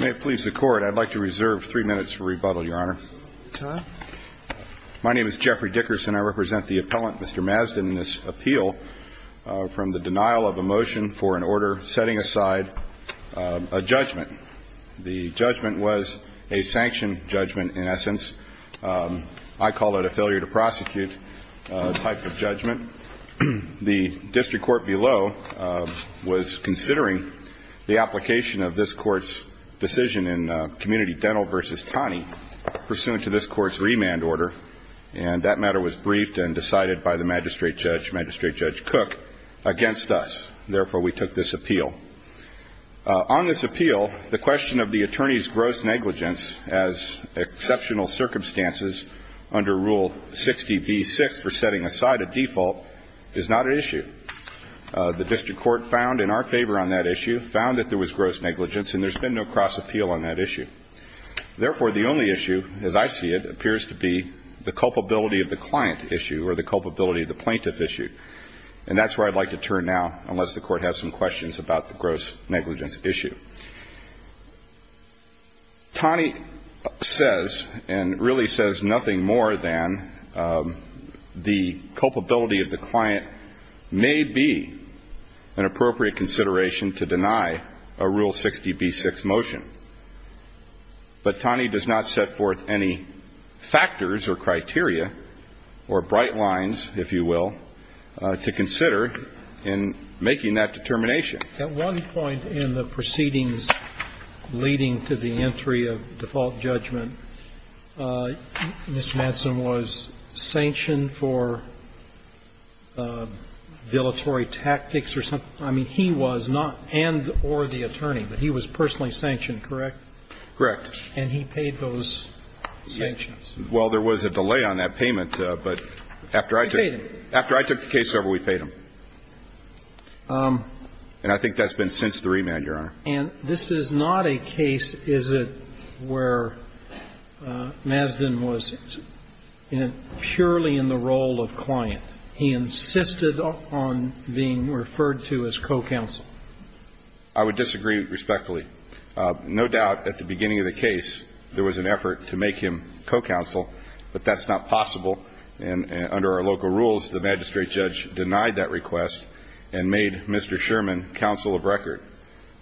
May it please the Court, I'd like to reserve three minutes for rebuttal, Your Honor. My name is Jeffrey Dickerson. I represent the appellant, Mr. Mazden, in this appeal from the denial of a motion for an order setting aside a judgment. The judgment was a sanction judgment, in essence. I call it a failure-to-prosecute type of judgment. The District Court below was considering the application of this Court's decision in Community Dental v. Taney, pursuant to this Court's remand order, and that matter was briefed and decided by the Magistrate Judge, Magistrate Judge Cook, against us. Therefore, we took this appeal. On this appeal, the question of the attorney's gross negligence as exceptional circumstances under Rule 60b-6 for setting aside a default is not an issue. The District Court found in our favor on that issue, found that there was gross negligence, and there's been no cross-appeal on that issue. Therefore, the only issue, as I see it, appears to be the culpability of the client issue or the culpability of the plaintiff issue. And that's where I'd like to turn now, unless the Court has some questions about the gross negligence issue. Taney says and really says nothing more than the culpability of the client may be an appropriate consideration to deny a Rule 60b-6 motion, but Taney does not set forth any factors or criteria or bright lines, if you will, to consider in making that determination. At one point in the proceedings leading to the entry of default judgment, Mr. Madsen was sanctioned for vilatory tactics or something. I mean, he was not, and or the attorney, but he was personally sanctioned, correct? Correct. And he paid those sanctions. Well, there was a delay on that payment, but after I took the case over, we paid them. And I think that's been since the remand, Your Honor. And this is not a case, is it, where Mazden was purely in the role of client. He insisted on being referred to as co-counsel. I would disagree respectfully. No doubt at the beginning of the case there was an effort to make him co-counsel, but that's not possible. And under our local rules, the magistrate judge denied that request and made Mr. Sherman counsel of record.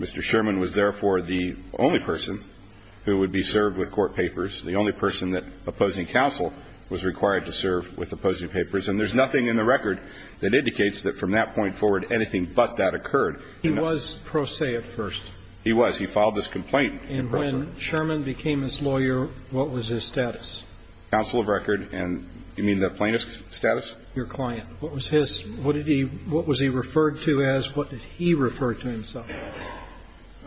Mr. Sherman was therefore the only person who would be served with court papers, the only person that opposing counsel was required to serve with opposing papers. And there's nothing in the record that indicates that from that point forward anything but that occurred. He was pro se at first. He was. He filed this complaint. And when Sherman became his lawyer, what was his status? Counsel of record. And you mean the plaintiff's status? Your client. What was his? What did he – what was he referred to as? What did he refer to himself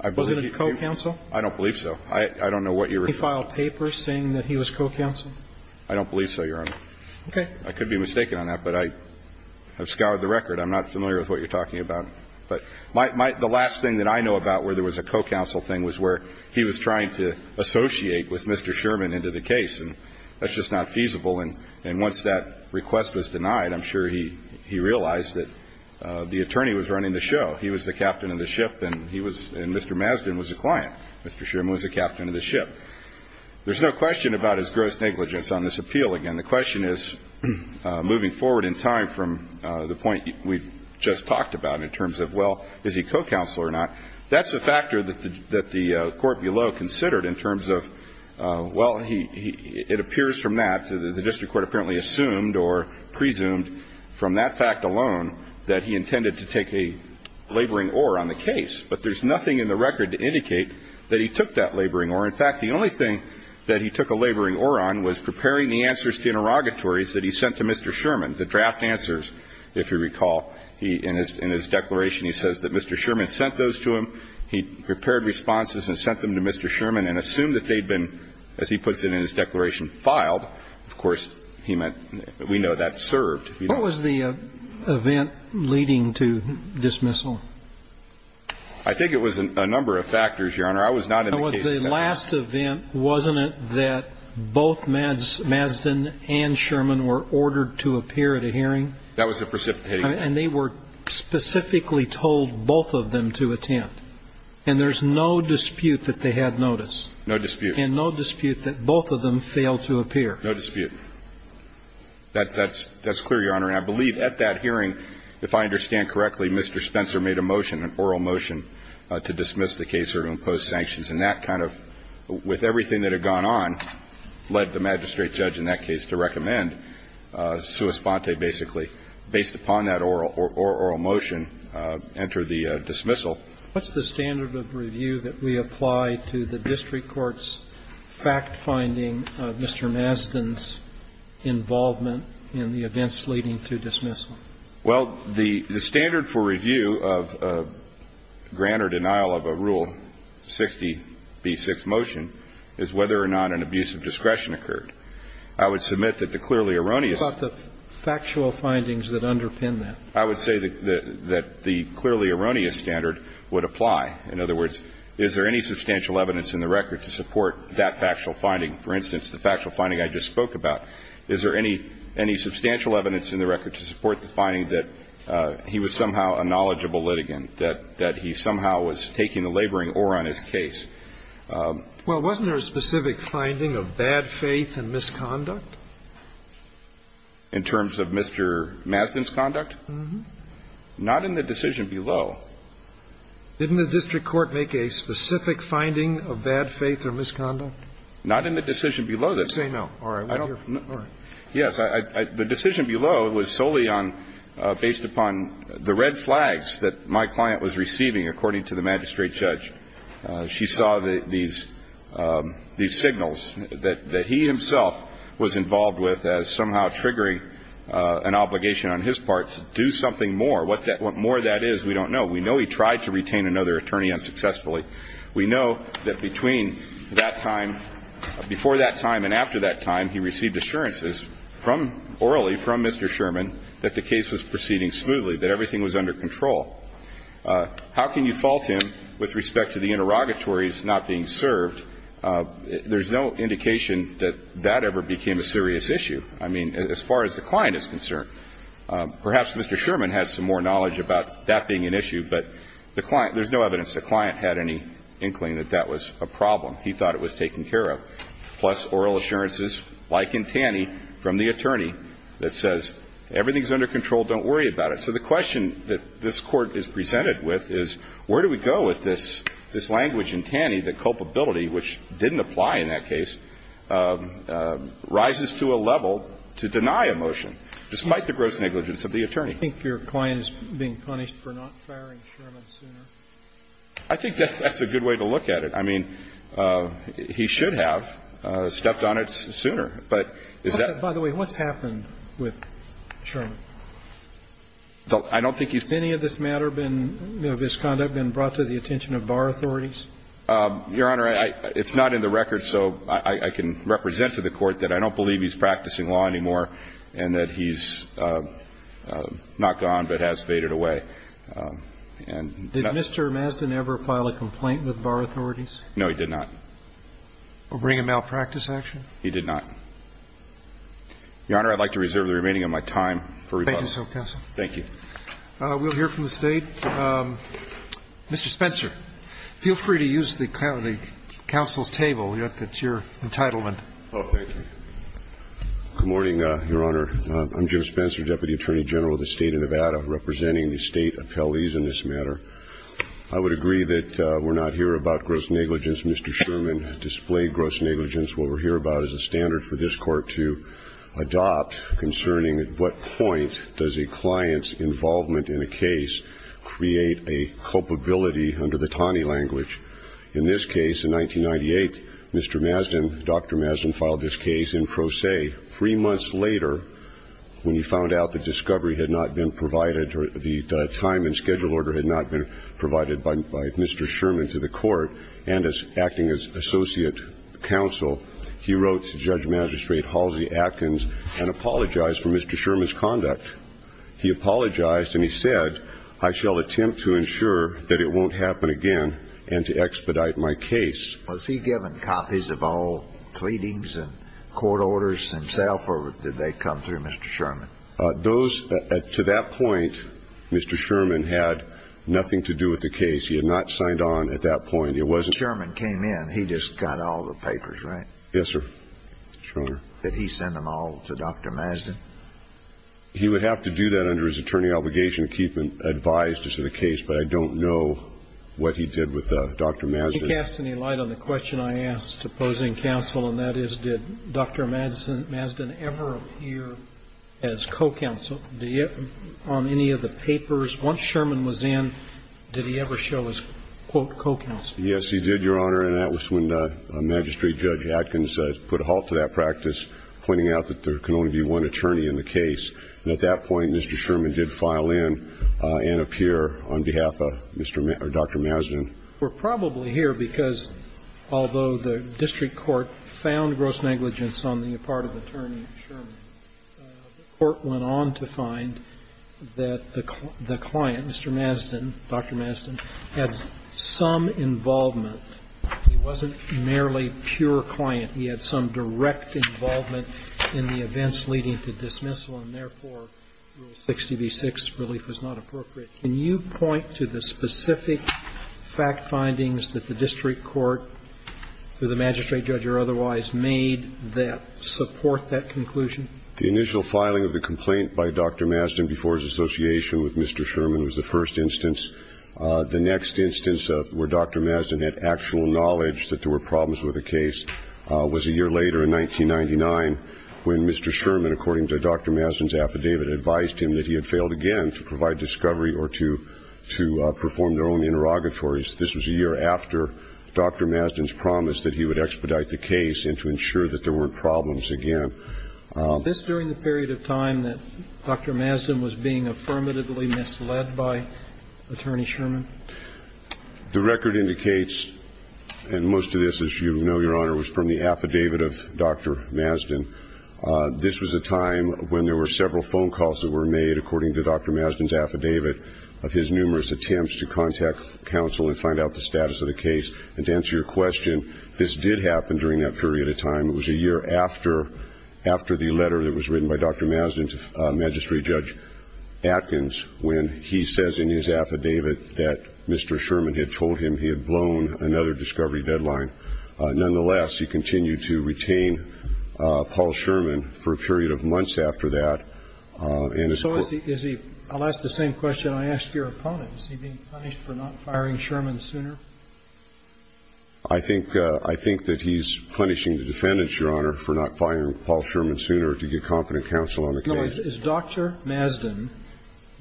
as? Was it a co-counsel? I don't believe so. I don't know what you're referring to. He filed papers saying that he was co-counsel? I don't believe so, Your Honor. Okay. I could be mistaken on that, but I have scoured the record. I'm not familiar with what you're talking about. But the last thing that I know about where there was a co-counsel thing was where he was trying to associate with Mr. Sherman into the case. And that's just not feasible. And once that request was denied, I'm sure he realized that the attorney was running the show. He was the captain of the ship and he was – and Mr. Mazden was a client. Mr. Sherman was the captain of the ship. There's no question about his gross negligence on this appeal. Again, the question is, moving forward in time from the point we've just talked about in terms of, well, is he co-counsel or not? That's a factor that the Court below considered in terms of, well, he – it appears from that, the district court apparently assumed or presumed from that fact alone that he intended to take a laboring oar on the case. But there's nothing in the record to indicate that he took that laboring oar. In fact, the only thing that he took a laboring oar on was preparing the answers to interrogatories that he sent to Mr. Sherman, the draft answers, if you recall. In his declaration, he says that Mr. Sherman sent those to him. He prepared responses and sent them to Mr. Sherman and assumed that they'd been, as he puts it in his declaration, filed. Of course, he meant – we know that served. What was the event leading to dismissal? I think it was a number of factors, Your Honor. I was not in the case. The last event, wasn't it that both Mazden and Sherman were ordered to appear at a hearing? That was the precipitating factor. And they were specifically told, both of them, to attend. And there's no dispute that they had notice. No dispute. And no dispute that both of them failed to appear. No dispute. That's clear, Your Honor. And I believe at that hearing, if I understand correctly, Mr. Spencer made a motion, an oral motion, to dismiss the case or to impose sanctions. And that kind of, with everything that had gone on, led the magistrate judge in that case to recommend sua sponte, basically, based upon that oral motion, enter the dismissal. What's the standard of review that we apply to the district court's fact-finding of Mr. Mazden's involvement in the events leading to dismissal? Well, the standard for review of grant or denial of a Rule 60b6 motion is whether or not an abuse of discretion occurred. I would submit that the clearly erroneous ---- What about the factual findings that underpin that? I would say that the clearly erroneous standard would apply. In other words, is there any substantial evidence in the record to support that factual finding? For instance, the factual finding I just spoke about. Is there any substantial evidence in the record to support the finding that he was somehow a knowledgeable litigant, that he somehow was taking the laboring oar on his Well, wasn't there a specific finding of bad faith and misconduct? In terms of Mr. Mazden's conduct? Uh-huh. Not in the decision below. Didn't the district court make a specific finding of bad faith or misconduct? Not in the decision below this. Say no. Yes. The decision below was solely on ---- based upon the red flags that my client was receiving, according to the magistrate judge. She saw these signals that he himself was involved with as somehow triggering an obligation on his part to do something more. What more that is, we don't know. We know he tried to retain another attorney unsuccessfully. We know that between that time ---- before that time and after that time, he received assurances from ---- orally from Mr. Sherman that the case was proceeding smoothly, that everything was under control. How can you fault him with respect to the interrogatories not being served? There's no indication that that ever became a serious issue. I mean, as far as the client is concerned. Perhaps Mr. Sherman had some more knowledge about that being an issue, but the client ---- there's no evidence the client had any inkling that that was a problem. He thought it was taken care of, plus oral assurances, like in Taney, from the attorney that says everything's under control, don't worry about it. So the question that this Court is presented with is where do we go with this ---- this language in Taney that culpability, which didn't apply in that case, rises to a level to deny a motion despite the gross negligence of the attorney? I think your client is being punished for not firing Sherman sooner. I think that's a good way to look at it. I mean, he should have stepped on it sooner, but is that ---- By the way, what's happened with Sherman? I don't think he's ---- Has any of this matter been ---- of his conduct been brought to the attention of bar authorities? Your Honor, I ---- it's not in the record, so I can represent to the Court that I don't believe he's practicing law anymore and that he's not gone but has faded away. And that's ---- Did Mr. Mazdan ever file a complaint with bar authorities? No, he did not. Or bring a malpractice action? He did not. Your Honor, I'd like to reserve the remaining of my time for rebuttal. Thank you, counsel. Thank you. We'll hear from the State. Mr. Spencer, feel free to use the counsel's table. That's your entitlement. Oh, thank you. Good morning, Your Honor. I'm Jim Spencer, Deputy Attorney General of the State of Nevada, representing the State appellees in this matter. I would agree that we're not here about gross negligence. Mr. Sherman displayed gross negligence. What we're here about is a standard for this Court to adopt concerning at what point does a client's involvement in a case create a culpability under the Taney language. In this case, in 1998, Mr. Mazdan, Dr. Mazdan, filed this case in pro se. Three months later, when he found out the discovery had not been provided or the time and schedule order had not been provided by Mr. Sherman to the Court, and Mr. Sherman, who was acting as associate counsel, he wrote to Judge Magistrate Halsey-Atkins and apologized for Mr. Sherman's conduct. He apologized, and he said, I shall attempt to ensure that it won't happen again and to expedite my case. Was he given copies of all pleadings and court orders himself, or did they come through Mr. Sherman? Those to that point, Mr. Sherman had nothing to do with the case. He had not signed on at that point. When Sherman came in, he just got all the papers, right? Yes, sir. Sure. Did he send them all to Dr. Mazdan? He would have to do that under his attorney obligation to keep advised as to the case, but I don't know what he did with Dr. Mazdan. Did he cast any light on the question I asked, opposing counsel, and that is, did Dr. Mazdan ever appear as co-counsel on any of the papers? Once Sherman was in, did he ever show as, quote, co-counsel? Yes, he did, Your Honor, and that was when Magistrate Judge Adkins put a halt to that practice, pointing out that there can only be one attorney in the case. And at that point, Mr. Sherman did file in and appear on behalf of Dr. Mazdan. We're probably here because, although the district court found gross negligence on the part of Attorney Sherman, the court went on to find that the client, Mr. Mazdan, Dr. Mazdan, had some involvement. He wasn't merely pure client. He had some direct involvement in the events leading to dismissal, and therefore, Rule 60b-6, relief was not appropriate. Can you point to the specific fact findings that the district court or the magistrate judge or otherwise made that support that conclusion? The initial filing of the complaint by Dr. Mazdan before his association with Mr. Sherman was the first instance. The next instance where Dr. Mazdan had actual knowledge that there were problems with the case was a year later in 1999, when Mr. Sherman, according to Dr. Mazdan's affidavit, advised him that he had failed again to provide discovery or to perform their own interrogatories. This was a year after Dr. Mazdan's promise that he would expedite the case and to ensure that there weren't problems again. The record indicates, and most of this, as you know, Your Honor, was from the affidavit of Dr. Mazdan. This was a time when there were several phone calls that were made, according to Dr. Mazdan's affidavit, of his numerous attempts to contact counsel and find out the status of the case. And to answer your question, this did happen during that period of time. It was a year after the letter that was written by Dr. Mazdan to Magistrate Judge Atkins, when he says in his affidavit that Mr. Sherman had told him he had blown another discovery deadline. Nonetheless, he continued to retain Paul Sherman for a period of months after that in his court. So is he – I'll ask the same question I asked your opponent. Is he being punished for not firing Sherman sooner? I think – I think that he's punishing the defendants, Your Honor, for not firing Paul Sherman sooner to get competent counsel on the case. No. Is Dr. Mazdan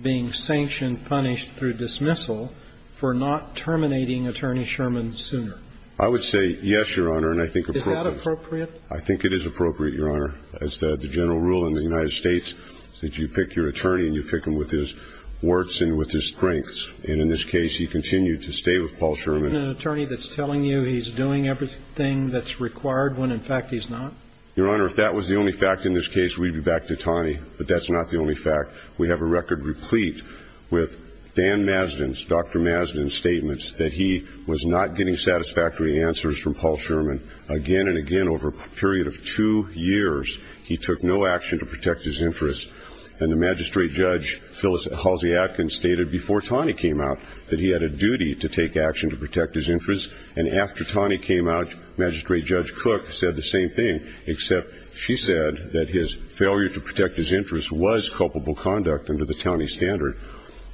being sanctioned, punished through dismissal for not terminating Attorney Sherman sooner? I would say yes, Your Honor, and I think it's appropriate. Is that appropriate? I think it is appropriate, Your Honor. As the general rule in the United States is that you pick your attorney and you pick him with his warts and with his strengths. And in this case, he continued to stay with Paul Sherman. Isn't there an attorney that's telling you he's doing everything that's required when, in fact, he's not? Your Honor, if that was the only fact in this case, we'd be back to Taney. But that's not the only fact. We have a record replete with Dan Mazdan's, Dr. Mazdan's statements that he was not getting satisfactory answers from Paul Sherman. Again and again over a period of two years, he took no action to protect his interests. And the Magistrate Judge Halsey-Atkins stated before Taney came out that he had a duty to take action to protect his interests. And after Taney came out, Magistrate Judge Cook said the same thing, except she said that his failure to protect his interests was culpable conduct under the Taney standard.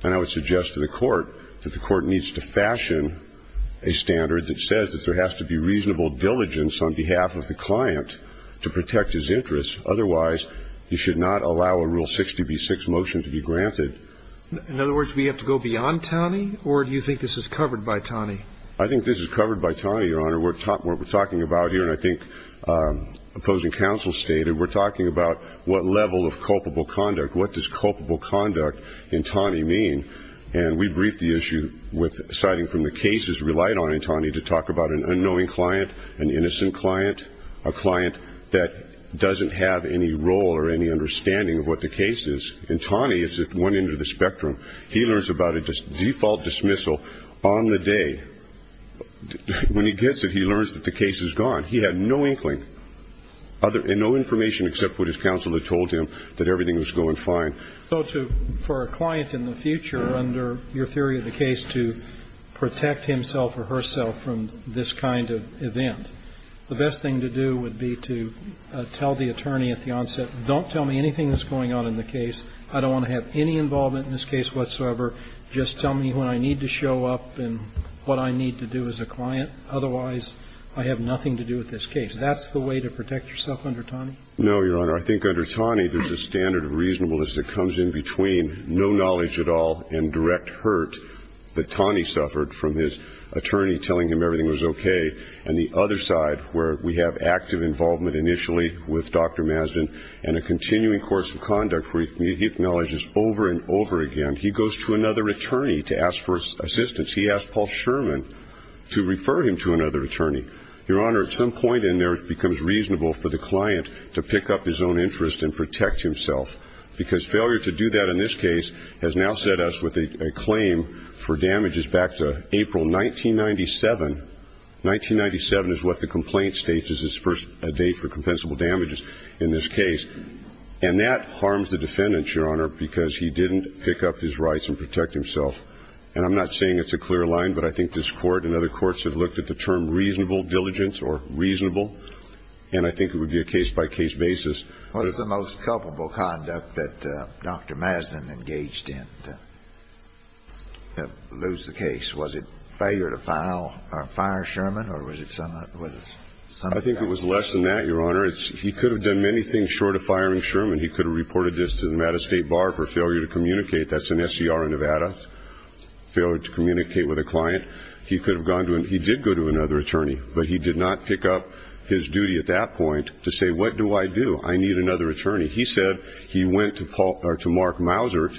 And I would suggest to the Court that the Court needs to fashion a standard that says that there has to be reasonable diligence on behalf of the client to protect his interests. Otherwise, you should not allow a Rule 60b-6 motion to be granted. In other words, we have to go beyond Taney? Or do you think this is covered by Taney? I think this is covered by Taney, Your Honor. We're talking about here, and I think opposing counsel stated, we're talking about what level of culpable conduct, what does culpable conduct in Taney mean? And we briefed the issue with citing from the cases relied on in Taney to talk about an unknowing client, an innocent client, a client that doesn't have any role or any understanding of what the case is. In Taney, as it went into the spectrum, he learns about a default dismissal on the day. When he gets it, he learns that the case is gone. He had no inkling and no information except what his counsel had told him, that everything was going fine. So for a client in the future, under your theory of the case, to protect himself or herself from this kind of event, the best thing to do would be to tell the attorney at the onset, don't tell me anything that's going on in the case. I don't want to have any involvement in this case whatsoever. Just tell me when I need to show up and what I need to do as a client. Otherwise, I have nothing to do with this case. That's the way to protect yourself under Taney? No, Your Honor. I think under Taney, there's a standard of reasonableness that comes in between no knowledge at all and direct hurt that Taney suffered from his attorney telling him everything was okay and the other side where we have active involvement initially with Dr. Masden and a continuing course of conduct where he acknowledges over and over again. He goes to another attorney to ask for assistance. He asked Paul Sherman to refer him to another attorney. Your Honor, at some point in there, it becomes reasonable for the client to pick up his own interest and protect himself. Because failure to do that in this case has now set us with a claim for damages back to April 1997. 1997 is what the complaint states as his first date for compensable damages in this case. And that harms the defendant, Your Honor, because he didn't pick up his rights and protect himself. And I'm not saying it's a clear line, but I think this Court and other courts have looked at the term reasonable diligence or reasonable, and I think it would be a case-by-case basis. What is the most culpable conduct that Dr. Masden engaged in to lose the case? Was it failure to file or fire Sherman, or was it something else? I think it was less than that, Your Honor. He could have done many things short of firing Sherman. He could have reported this to the Nevada State Bar for failure to communicate. That's an SCR in Nevada, failure to communicate with a client. He did go to another attorney, but he did not pick up his duty at that point to say, what do I do? I need another attorney. He said he went to Mark Mousert,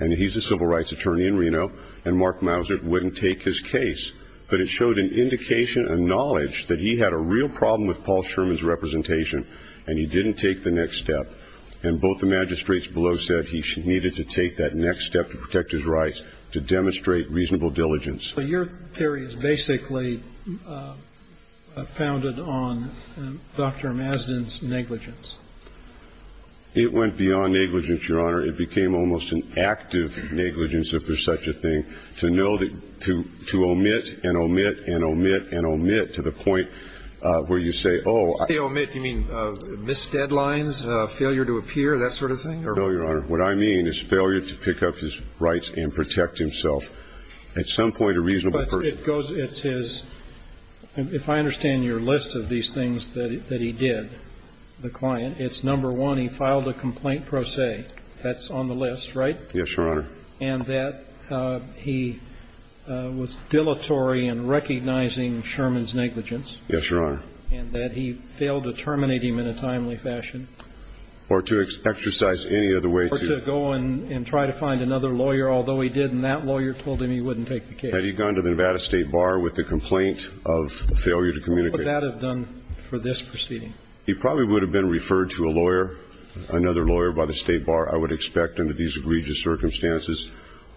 and he's a civil rights attorney in Reno, and Mark Mousert wouldn't take his case. But it showed an indication, a knowledge, that he had a real problem with Paul Sherman's representation, and he didn't take the next step. And both the magistrates below said he needed to take that next step to protect his rights, to demonstrate reasonable diligence. So your theory is basically founded on Dr. Masden's negligence. It went beyond negligence, Your Honor. It became almost an active negligence, if there's such a thing, to know that to omit and omit and omit and omit to the point where you say, oh, I ---- When you say omit, do you mean missed deadlines, failure to appear, that sort of thing? No, Your Honor. What I mean is failure to pick up his rights and protect himself. At some point, a reasonable person. But it goes to his ---- if I understand your list of these things that he did, the client, it's number one, he filed a complaint pro se. That's on the list, right? Yes, Your Honor. And that he was dilatory in recognizing Sherman's negligence. Yes, Your Honor. And that he failed to terminate him in a timely fashion. Or to exercise any other way to ---- He failed to go and try to find another lawyer, although he did, and that lawyer told him he wouldn't take the case. Had he gone to the Nevada State Bar with a complaint of failure to communicate? What would that have done for this proceeding? He probably would have been referred to a lawyer, another lawyer by the State Bar, I would expect, under these egregious circumstances.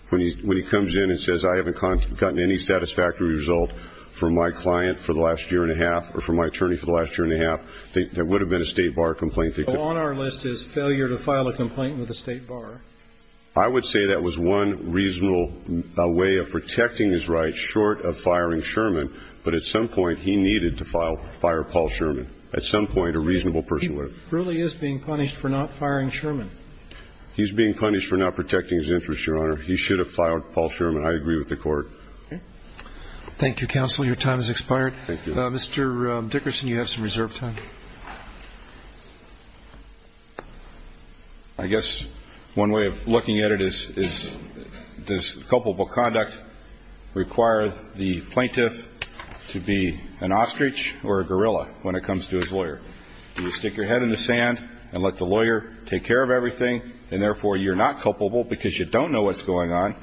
When he comes in and says, I haven't gotten any satisfactory result from my client for the last year and a half or from my attorney for the last year and a half, that would have been a State Bar complaint. On our list is failure to file a complaint with a State Bar. I would say that was one reasonable way of protecting his rights short of firing Sherman, but at some point he needed to file ---- fire Paul Sherman, at some point a reasonable person would have. He truly is being punished for not firing Sherman. He's being punished for not protecting his interests, Your Honor. He should have filed Paul Sherman. I agree with the Court. Okay. Thank you, Counsel. Your time has expired. Thank you. Mr. Dickerson, you have some reserve time. I guess one way of looking at it is, does culpable conduct require the plaintiff to be an ostrich or a gorilla when it comes to his lawyer? Do you stick your head in the sand and let the lawyer take care of everything and, therefore, you're not culpable because you don't know what's going on,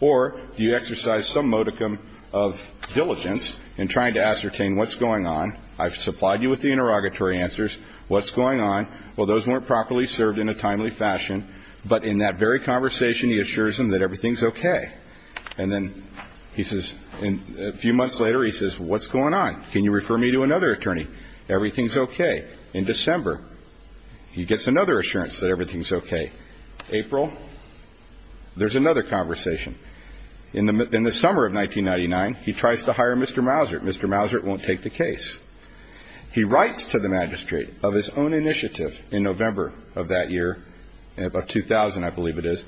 or do you exercise some modicum of diligence in trying to ascertain what's going on? I've supplied you with the interrogatory answers. What's going on? Well, those weren't properly served in a timely fashion, but in that very conversation he assures them that everything's okay. And then he says, a few months later, he says, what's going on? Can you refer me to another attorney? Everything's okay. In December, he gets another assurance that everything's okay. April, there's another conversation. In the summer of 1999, he tries to hire Mr. Mousert. Mr. Mousert won't take the case. He writes to the magistrate of his own initiative in November of that year, about 2000, I believe it is,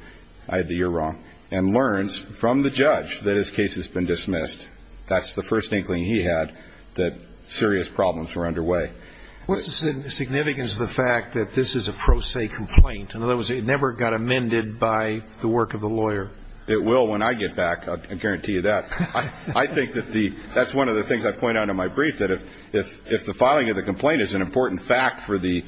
I had the year wrong, and learns from the judge that his case has been dismissed. That's the first inkling he had that serious problems were underway. What's the significance of the fact that this is a pro se complaint? In other words, it never got amended by the work of the lawyer. It will when I get back, I guarantee you that. I think that's one of the things I point out in my brief, that if the filing of the complaint is an important fact for the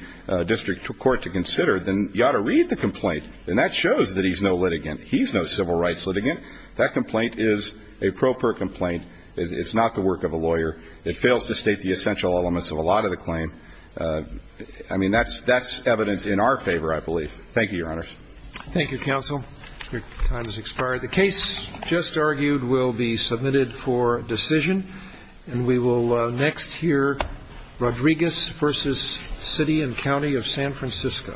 district court to consider, then you ought to read the complaint, and that shows that he's no litigant. He's no civil rights litigant. That complaint is a pro per complaint. It's not the work of a lawyer. It fails to state the essential elements of a lot of the claim. I mean, that's evidence in our favor, I believe. Thank you, Your Honors. Thank you, counsel. Your time has expired. The case just argued will be submitted for decision, and we will next hear Rodriguez v. City and County of San Francisco. Thank you.